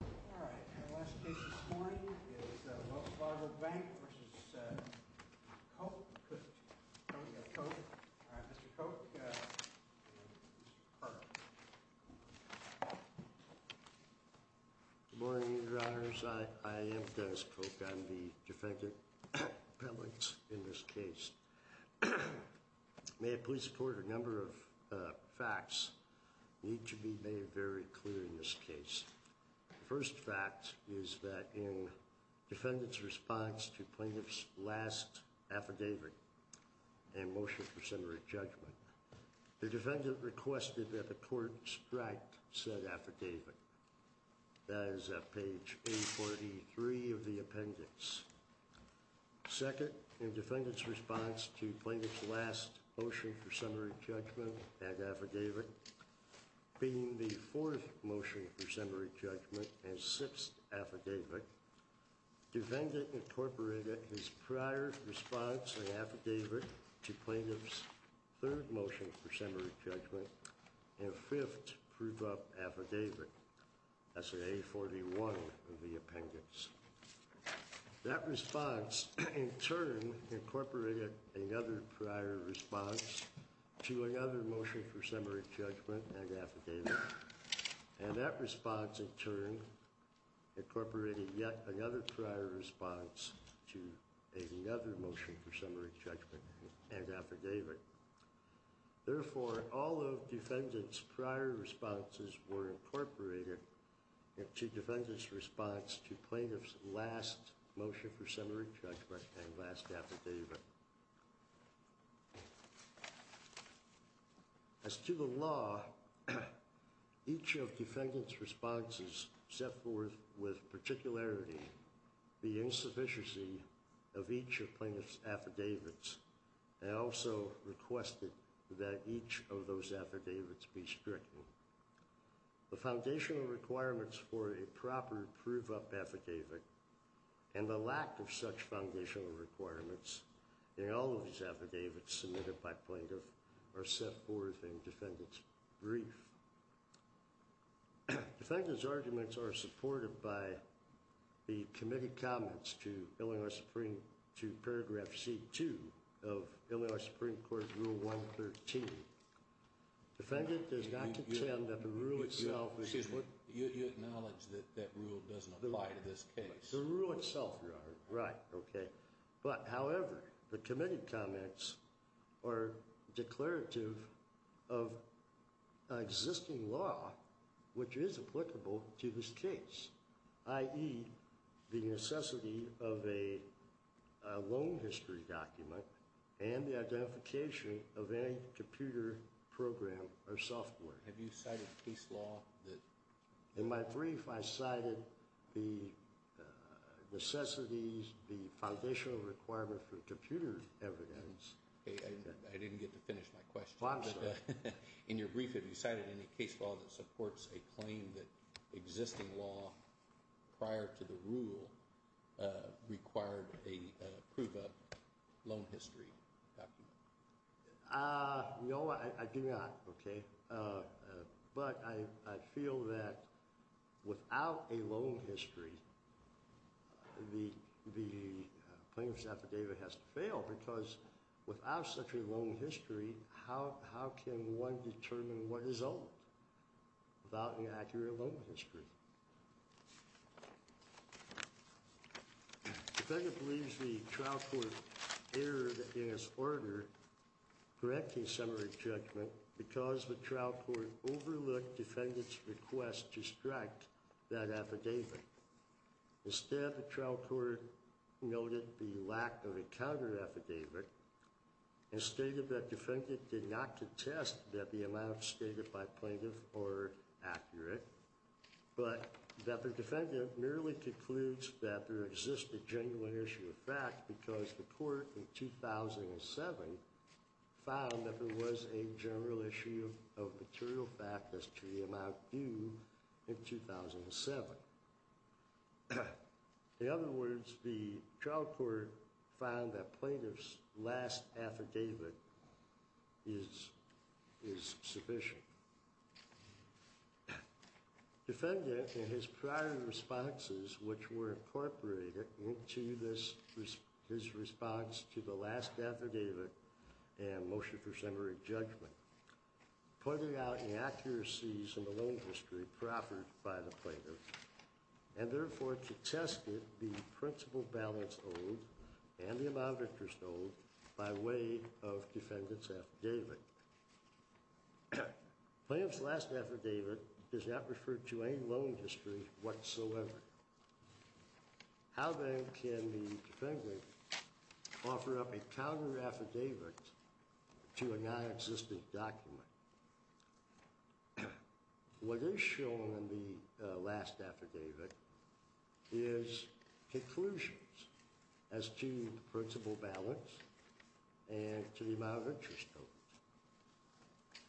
N.A., etc. v. Koch, N.A., etc. Good morning, Your Honors. I am Dennis Koch. I'm the defendant in this case. May it please the Court, a number of facts need to be made very clear in this case. The first fact is that in defendant's response to plaintiff's last affidavit and motion for summary judgment, the defendant requested that the Court strike said affidavit. That is at page 843 of the appendix. Second, in defendant's response to plaintiff's last motion for summary judgment and affidavit, being the fourth motion for summary judgment and sixth affidavit, defendant incorporated his prior response and affidavit to plaintiff's third motion for summary judgment and fifth prove up affidavit. That's at 841 of the appendix. That response, in turn, incorporated another prior response to another motion for summary judgment and affidavit. And that response, in turn, incorporated yet another prior response to another motion for summary judgment and affidavit. Therefore, all of defendant's prior responses were incorporated into defendant's response to plaintiff's last motion for summary judgment and last affidavit. As to the law, each of defendant's responses set forth with particularity the insufficiency of each of plaintiff's affidavits. They also requested that each of those affidavits be stricken. The foundational requirements for a proper prove up affidavit and the lack of such foundational requirements in all of these affidavits submitted by plaintiff are set forth in defendant's brief. Defendant's arguments are supported by the committee comments to Illinois Supreme, to paragraph C2 of Illinois Supreme Court Rule 113. Defendant does not contend that the rule itself... Excuse me. You acknowledge that that rule doesn't apply to this case? The rule itself, Your Honor. Right. Okay. But, however, the committee comments are declarative of existing law which is applicable to this case. I.e., the necessity of a loan history document and the identification of any computer program or software. Have you cited case law that... In my brief, I cited the necessities, the foundational requirements for computer evidence. I didn't get to finish my question. In your brief, have you cited any case law that supports a claim that existing law prior to the rule required a prove up loan history document? No, I do not. Okay. But I feel that without a loan history, the plaintiff's affidavit has to fail because without such a loan history, how can one determine what is owed without an accurate loan history? Defendant believes the trial court erred in its order correcting summary judgment because the trial court overlooked defendant's request to strike that affidavit. Instead, the trial court noted the lack of a counter affidavit and stated that defendant did not contest that the amounts stated by plaintiff are accurate, but that the defendant merely concludes that there exists a genuine issue of fact because the court in 2007 found that there was a general issue of material fact as to the amount due in 2007. In other words, the trial court found that plaintiff's last affidavit is sufficient. Defendant, in his prior responses which were incorporated into his response to the last affidavit and motion for summary judgment, pointed out inaccuracies in the loan history proffered by the plaintiff and therefore contested the principal balance owed and the amount interest owed by way of defendant's affidavit. Plaintiff's last affidavit does not refer to any loan history whatsoever. How then can the defendant offer up a counter affidavit to a non-existent document? What is shown in the last affidavit is conclusions as to the principal balance and to the amount of interest owed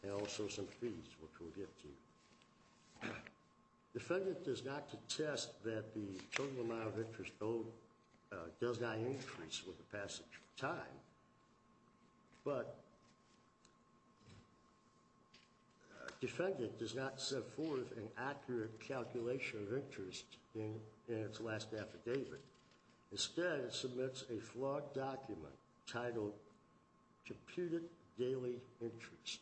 and also some fees which we'll get to. Defendant does not contest that the total amount of interest owed does not increase with the passage of time, but defendant does not set forth an accurate calculation of interest in its last affidavit. Instead, it submits a flawed document titled computed daily interest.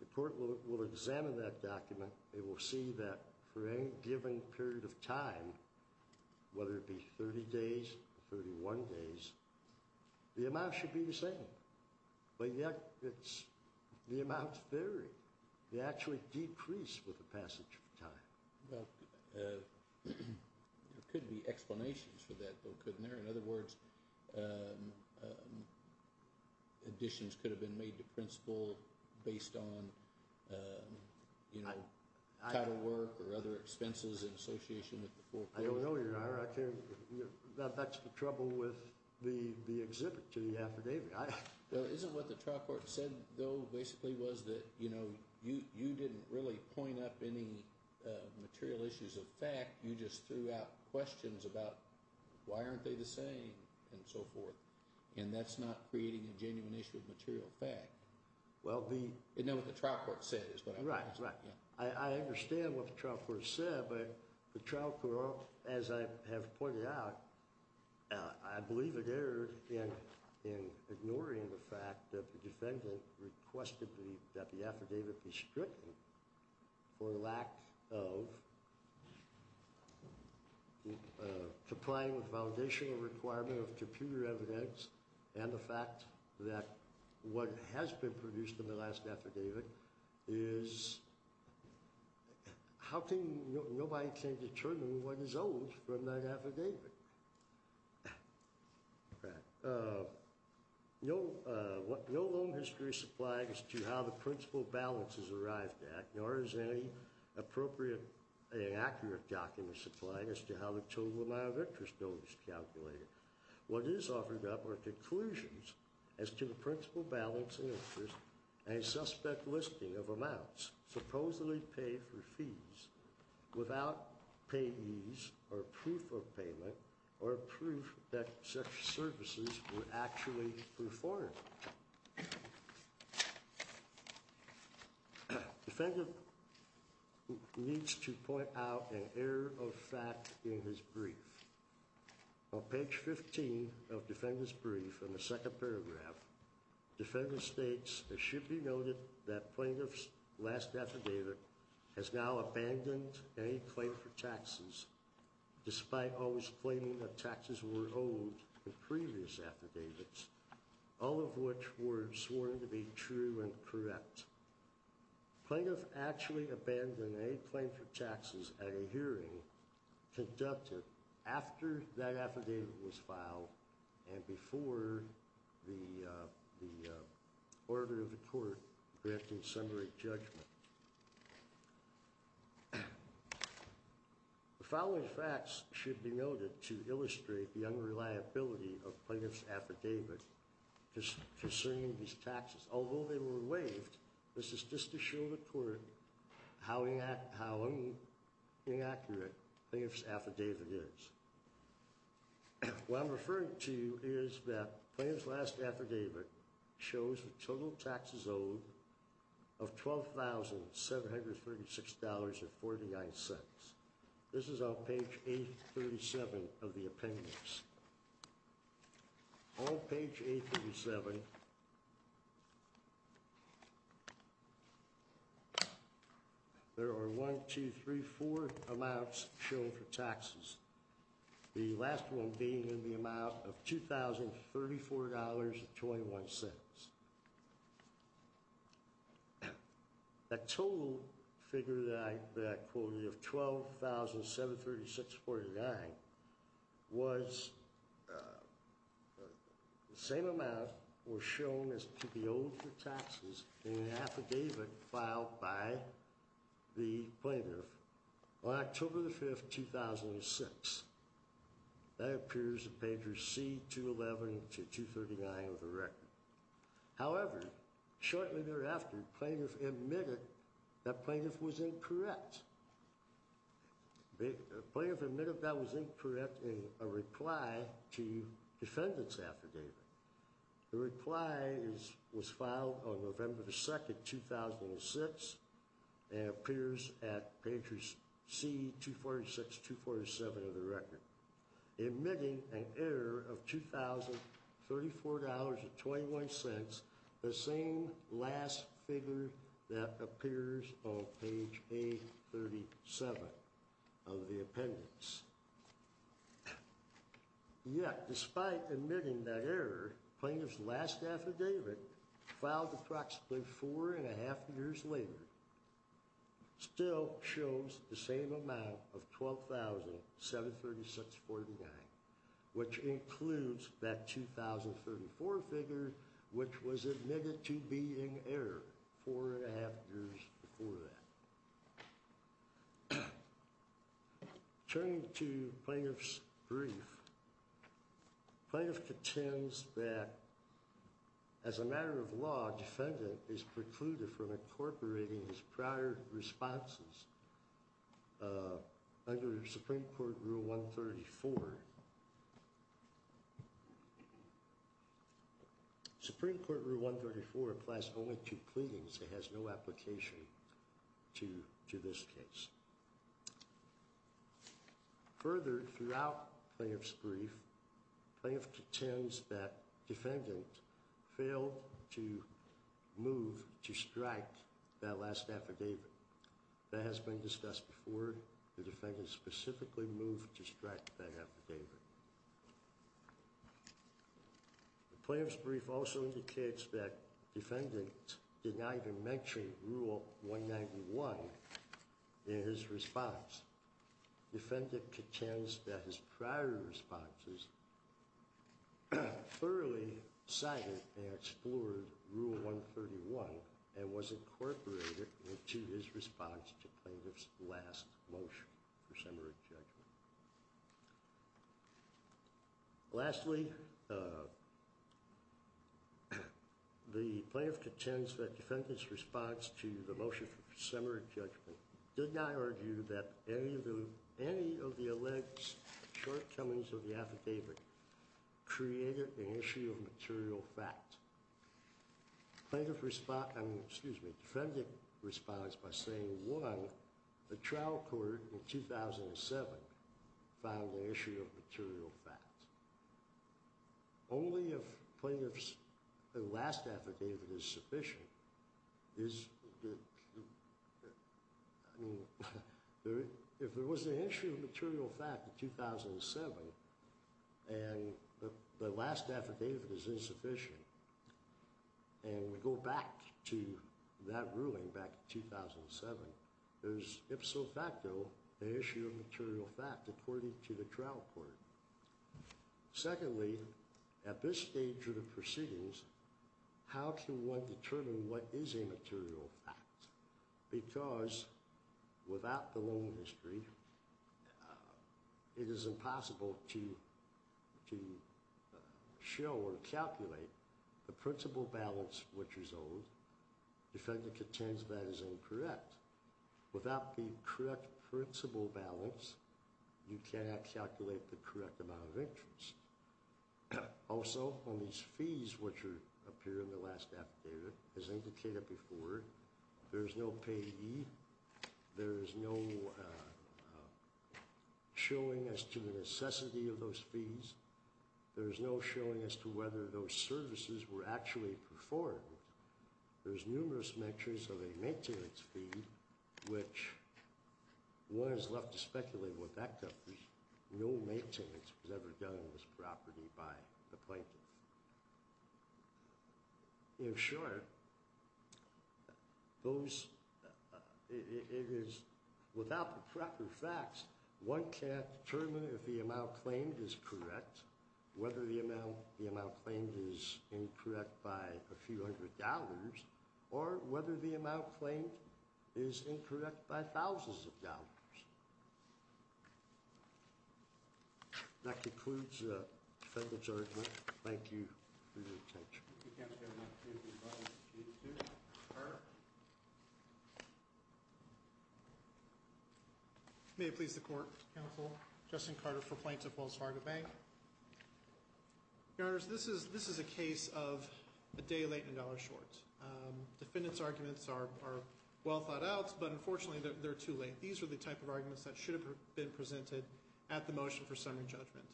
The court will examine that document. They will see that for any given period of time, whether it be 30 days, 31 days, the amount should be the same. But yet the amounts vary. They actually decrease with the passage of time. There could be explanations for that though, couldn't there? In other words, additions could have been made to principal based on title work or other expenses in association with the full payment. I don't know, Your Honor. That's the trouble with the exhibit to the affidavit. Isn't what the trial court said though basically was that you didn't really point up any material issues of fact. You just threw out questions about why aren't they the same and so forth. And that's not creating a genuine issue of material fact. You know what the trial court said is what I'm trying to say. I understand what the trial court said, but the trial court, as I have pointed out, I believe it erred in ignoring the fact that the defendant requested that the affidavit be stricken for lack of complying with foundational requirement of computer evidence and the fact that what has been produced in the last affidavit is How can nobody determine what is owed from that affidavit? No loan history is supplied as to how the principal balance is arrived at, nor is any appropriate or accurate document supplied as to how the total amount of interest owed is calculated. What is offered up are conclusions as to the principal balance of interest and a suspect listing of amounts supposedly paid for fees without payees or proof of payment or proof that such services were actually performed. Defendant needs to point out an error of fact in his brief. On page 15 of defendant's brief in the second paragraph, defendant states, it should be noted that plaintiff's last affidavit has now abandoned any claim for taxes, despite always claiming that taxes were owed in previous affidavits, all of which were sworn to be true and correct. Plaintiff actually abandoned any claim for taxes at a hearing conducted after that affidavit was filed and before the order of the court granting summary judgment. The following facts should be noted to illustrate the unreliability of plaintiff's affidavit concerning these taxes. Although they were waived, this is just to show the court how inaccurate plaintiff's affidavit is. What I'm referring to is that plaintiff's last affidavit shows the total taxes owed of $12,736.49. This is on page 837 of the appendix. On page 837, there are 1, 2, 3, 4 amounts shown for taxes, the last one being in the amount of $2,034.21. The total figure that I quoted of $12,736.49 was the same amount was shown as to be owed for taxes in the affidavit filed by the plaintiff on October 5, 2006. That appears in pages C, 211 to 239 of the record. However, shortly thereafter, plaintiff admitted that plaintiff was incorrect. Plaintiff admitted that was incorrect in a reply to defendant's affidavit. The reply was filed on November 2, 2006 and appears at pages C, 246 to 247 of the record. Admitting an error of $2,034.21, the same last figure that appears on page 837 of the appendix. Yet, despite admitting that error, plaintiff's last affidavit filed approximately four and a half years later still shows the same amount of $12,736.49, which includes that $2,034.21 figure which was admitted to be in error four and a half years before that. Turning to plaintiff's brief, plaintiff contends that as a matter of law, defendant is precluded from incorporating his prior responses under Supreme Court Rule 134. Supreme Court Rule 134 applies only to pleadings. It has no application to this case. Further, throughout plaintiff's brief, plaintiff contends that defendant failed to move to strike that last affidavit. That has been discussed before. The defendant specifically moved to strike that affidavit. The plaintiff's brief also indicates that defendant did not even mention Rule 191 in his response. Defendant contends that his prior responses thoroughly cited and explored Rule 131 and was incorporated into his response to plaintiff's last motion for summary judgment. Lastly, the plaintiff contends that defendant's response to the motion for summary judgment did not argue that any of the alleged shortcomings of the affidavit created an issue of material fact. Defendant responds by saying, one, the trial court in 2007 found an issue of material fact. Only if plaintiff's last affidavit is sufficient. If there was an issue of material fact in 2007, and the last affidavit is insufficient, and we go back to that ruling back in 2007, there's ipso facto an issue of material fact according to the trial court. Secondly, at this stage of the proceedings, how can one determine what is a material fact? Because without the loan history, it is impossible to show or calculate the principal balance which is owed. Defendant contends that is incorrect. Without the correct principal balance, you cannot calculate the correct amount of interest. Also, on these fees which appear in the last affidavit, as indicated before, there is no payee. There is no showing as to the necessity of those fees. There is no showing as to whether those services were actually performed. There's numerous measures of a maintenance fee, which one is left to speculate what that could be. No maintenance was ever done on this property by the plaintiff. In short, without the proper facts, one can't determine if the amount claimed is correct, whether the amount claimed is incorrect by a few hundred dollars, or whether the amount claimed is incorrect by thousands of dollars. That concludes the defendant's argument. Thank you for your attention. If you can't hear me, please raise your mic. Carter. May it please the Court, Counsel, Justin Carter for Plaintiff Wells Fargo Bank. Your Honors, this is a case of a day late and a dollar short. Defendant's arguments are well thought out, but unfortunately they're too late. These are the type of arguments that should have been presented at the motion for summary judgment.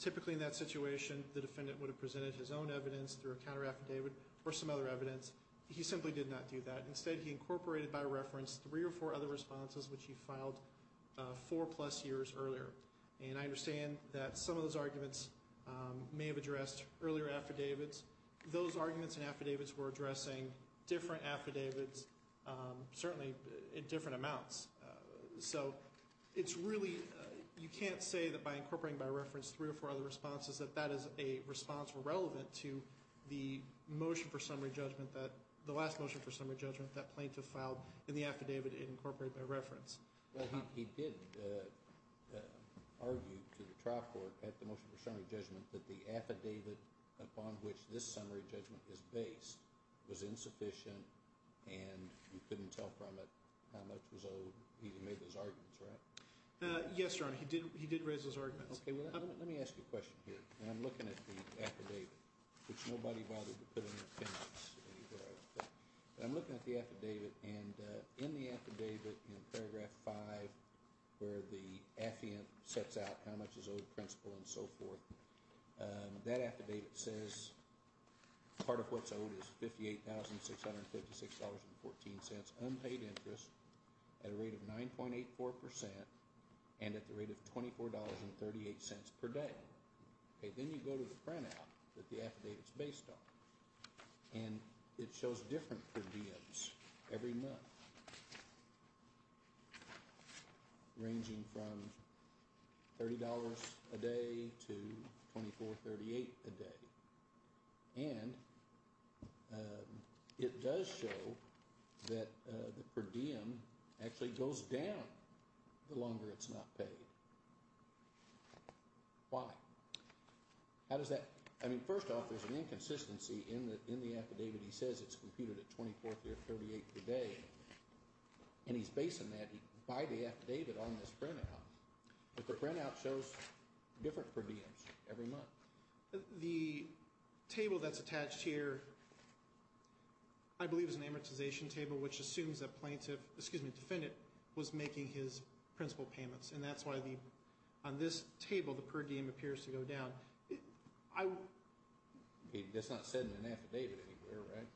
Typically in that situation, the defendant would have presented his own evidence through a counter-affidavit or some other evidence. He simply did not do that. Instead, he incorporated by reference three or four other responses, which he filed four-plus years earlier. And I understand that some of those arguments may have addressed earlier affidavits. Those arguments and affidavits were addressing different affidavits, certainly in different amounts. So it's really, you can't say that by incorporating by reference three or four other responses, that that is a response irrelevant to the motion for summary judgment that, the last motion for summary judgment that plaintiff filed in the affidavit it incorporated by reference. Well, he did argue to the trial court at the motion for summary judgment that the affidavit upon which this summary judgment is based was insufficient and you couldn't tell from it how much was owed. He made those arguments, right? Yes, Your Honor. He did raise those arguments. Okay. Well, let me ask you a question here. I'm looking at the affidavit, which nobody bothered to put in the appendix. But I'm looking at the affidavit, and in the affidavit in paragraph five, where the affiant sets out how much is owed principal and so forth, that affidavit says part of what's owed is $58,656.14 unpaid interest at a rate of 9.84% and at the rate of $24.38 per day. Then you go to the printout that the affidavit is based on, and it shows different per diems every month, ranging from $30 a day to $24.38 a day. And it does show that the per diem actually goes down the longer it's not paid. Why? How does that – I mean, first off, there's an inconsistency in the affidavit. He says it's computed at $24.38 per day, and he's basing that by the affidavit on this printout. But the printout shows different per diems every month. The table that's attached here I believe is an amortization table, which assumes that plaintiff – excuse me, defendant was making his principal payments. And that's why on this table the per diem appears to go down. That's not said in an affidavit anywhere, right?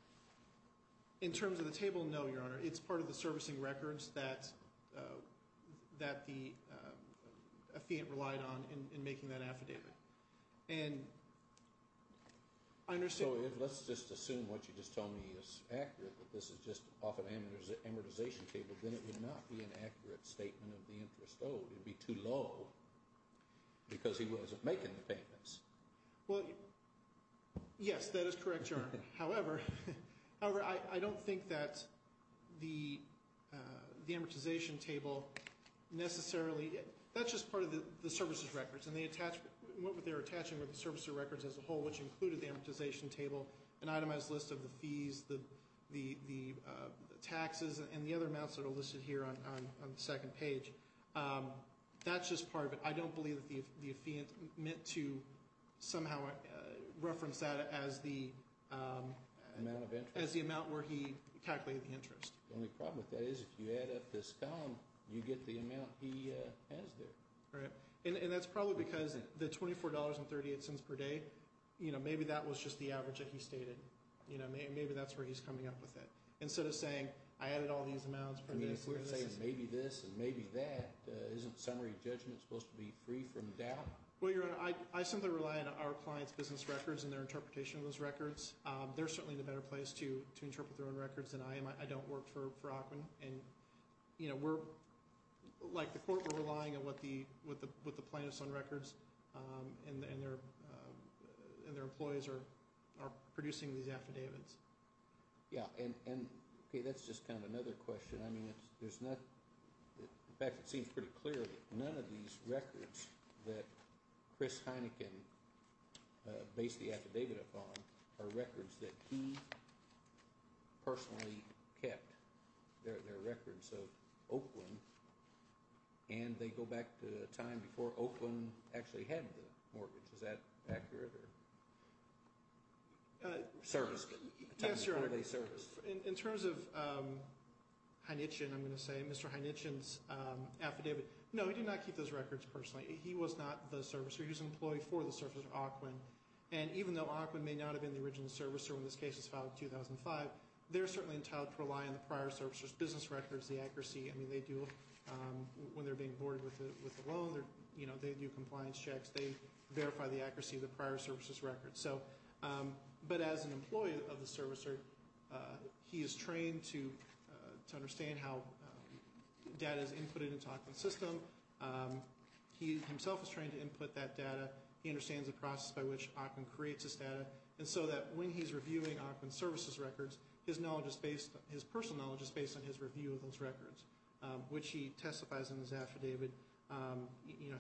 In terms of the table, no, Your Honor. It's part of the servicing records that the affiant relied on in making that affidavit. So let's just assume what you just told me is accurate, that this is just off an amortization table. Then it would not be an accurate statement of the interest owed. It would be too low because he wasn't making the payments. Well, yes, that is correct, Your Honor. However, I don't think that the amortization table necessarily – that's just part of the services records. And they attach – what they were attaching were the servicing records as a whole, which included the amortization table, an itemized list of the fees, the taxes, and the other amounts that are listed here on the second page. That's just part of it. I don't believe that the affiant meant to somehow reference that as the amount where he calculated the interest. The only problem with that is if you add up this column, you get the amount he has there. And that's probably because the $24.38 per day, maybe that was just the average that he stated. Maybe that's where he's coming up with it. Instead of saying, I added all these amounts per day. You're going to say maybe this and maybe that. Isn't summary judgment supposed to be free from doubt? Well, Your Honor, I simply rely on our clients' business records and their interpretation of those records. They're certainly in a better place to interpret their own records than I am. I don't work for Ackman. And, you know, we're – like the court, we're relying on what the plaintiffs' own records and their employees are producing these affidavits. Yeah. And, okay, that's just kind of another question. I mean, there's not – in fact, it seems pretty clear that none of these records that Chris Heineken based the affidavit upon are records that he personally kept. They're records of Oakland, and they go back to a time before Oakland actually had the mortgage. Is that accurate or – service? Yes, Your Honor. In terms of Heineken, I'm going to say, Mr. Heineken's affidavit, no, he did not keep those records personally. He was not the servicer. He was an employee for the servicer of Oakland. And even though Oakland may not have been the original servicer when this case was filed in 2005, they're certainly entitled to rely on the prior servicer's business records, the accuracy. I mean, they do – when they're being boarded with a loan, they do compliance checks. They verify the accuracy of the prior servicer's records. So – but as an employee of the servicer, he is trained to understand how data is inputted into Oakland's system. He himself is trained to input that data. He understands the process by which Oakland creates this data. And so that when he's reviewing Oakland's services records, his knowledge is based – his personal knowledge is based on his review of those records, which he testifies in his affidavit.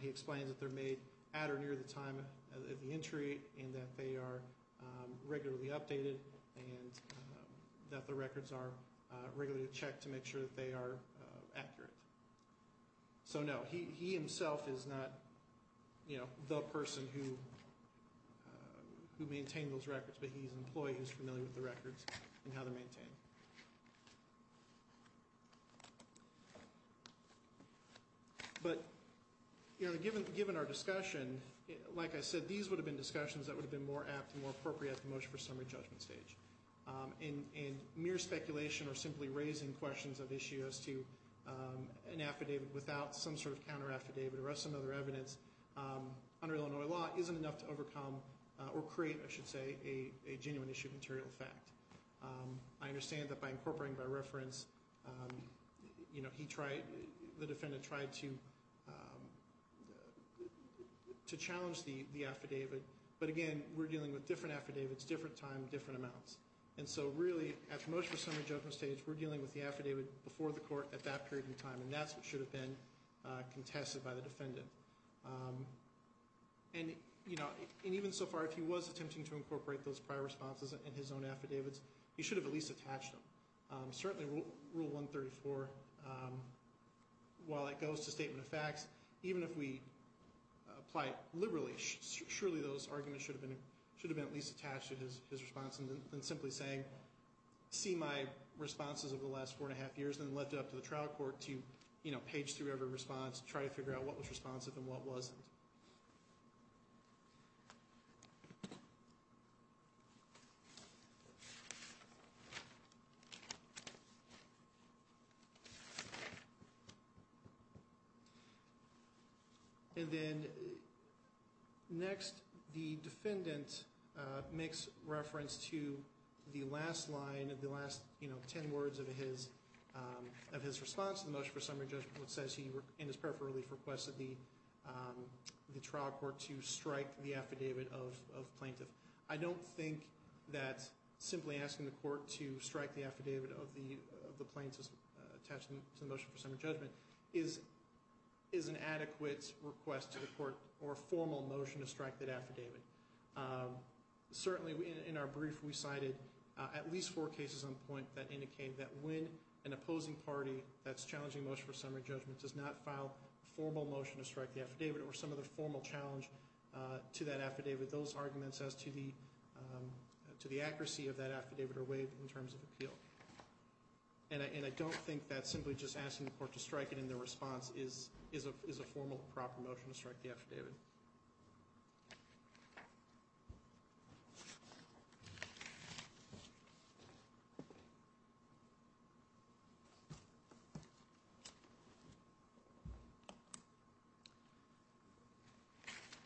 He explains that they're made at or near the time of the entry and that they are regularly updated and that the records are regularly checked to make sure that they are accurate. So, no, he himself is not the person who maintained those records, but he's an employee who's familiar with the records and how they're maintained. Thank you. But, you know, given our discussion, like I said, these would have been discussions that would have been more apt and more appropriate at the motion for summary judgment stage. And mere speculation or simply raising questions of issues to an affidavit without some sort of counter-affidavit or some other evidence under Illinois law isn't enough to overcome or create, I should say, a genuine issue of material fact. I understand that by incorporating by reference, you know, he tried – the defendant tried to challenge the affidavit. But, again, we're dealing with different affidavits, different time, different amounts. And so, really, at the motion for summary judgment stage, we're dealing with the affidavit before the court at that period in time, and that's what should have been contested by the defendant. And, you know, and even so far, if he was attempting to incorporate those prior responses in his own affidavits, he should have at least attached them. Certainly Rule 134, while it goes to statement of facts, even if we apply it liberally, surely those arguments should have been at least attached to his response than simply saying see my responses over the last four and a half years and then left it up to the trial court to, you know, page through every response, try to figure out what was responsive and what wasn't. And then, next, the defendant makes reference to the last line, the last, you know, ten words of his response to the motion for summary judgment, which says he, in his peripheral relief, requested the trial court to strike the affidavit of plaintiff. I don't think that simply asking the court to strike the affidavit of the plaintiff attached to the motion for summary judgment is an adequate request to the court or formal motion to strike that affidavit. Certainly, in our brief, we cited at least four cases on point that indicate that when an opposing party that's challenging motion for summary judgment does not file a formal motion to strike the affidavit or some other formal challenge to that affidavit, those arguments as to the accuracy of that affidavit are waived in terms of appeal. And I don't think that simply just asking the court to strike it in their response is a formal, proper motion to strike the affidavit.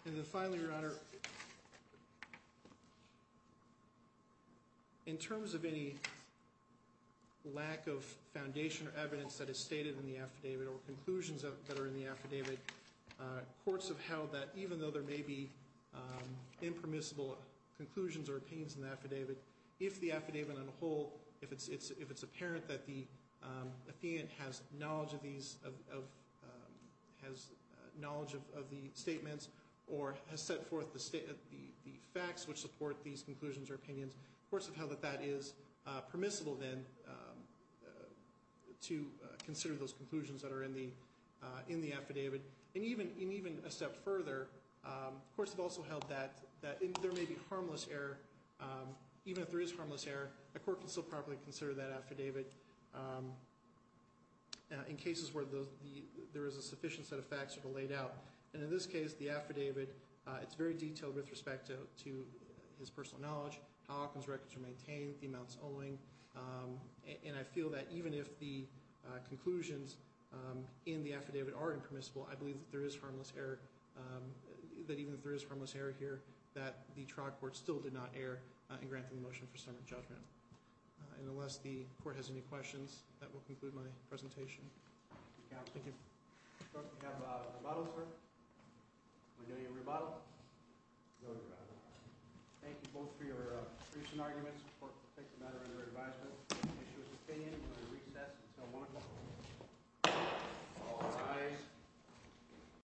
And then, finally, Your Honor, in terms of any lack of foundation or evidence that is stated in the affidavit or conclusions that are in the affidavit, courts have held that even though there may be impermissible conclusions or opinions in the affidavit, if the affidavit on the whole, if it's apparent that the affiant has knowledge of the statements or has set forth the facts which support these conclusions or opinions, courts have held that that is permissible then to consider those conclusions that are in the affidavit. And even a step further, courts have also held that there may be harmless error. Even if there is harmless error, a court can still properly consider that affidavit in cases where there is a sufficient set of facts that are laid out. And in this case, the affidavit, it's very detailed with respect to his personal knowledge, how often his records are maintained, the amounts owing. And I feel that even if the conclusions in the affidavit are impermissible, I believe that there is harmless error, that even if there is harmless error here, that the trial court still did not err in granting the motion for summons judgment. And unless the court has any questions, that will conclude my presentation. Thank you. We have a rebuttal, sir. We know your rebuttal. We know your rebuttal. Thank you both for your recent arguments. We support the matter under your advisement. We appreciate your opinion. We're going to recess until 1 o'clock. All rise.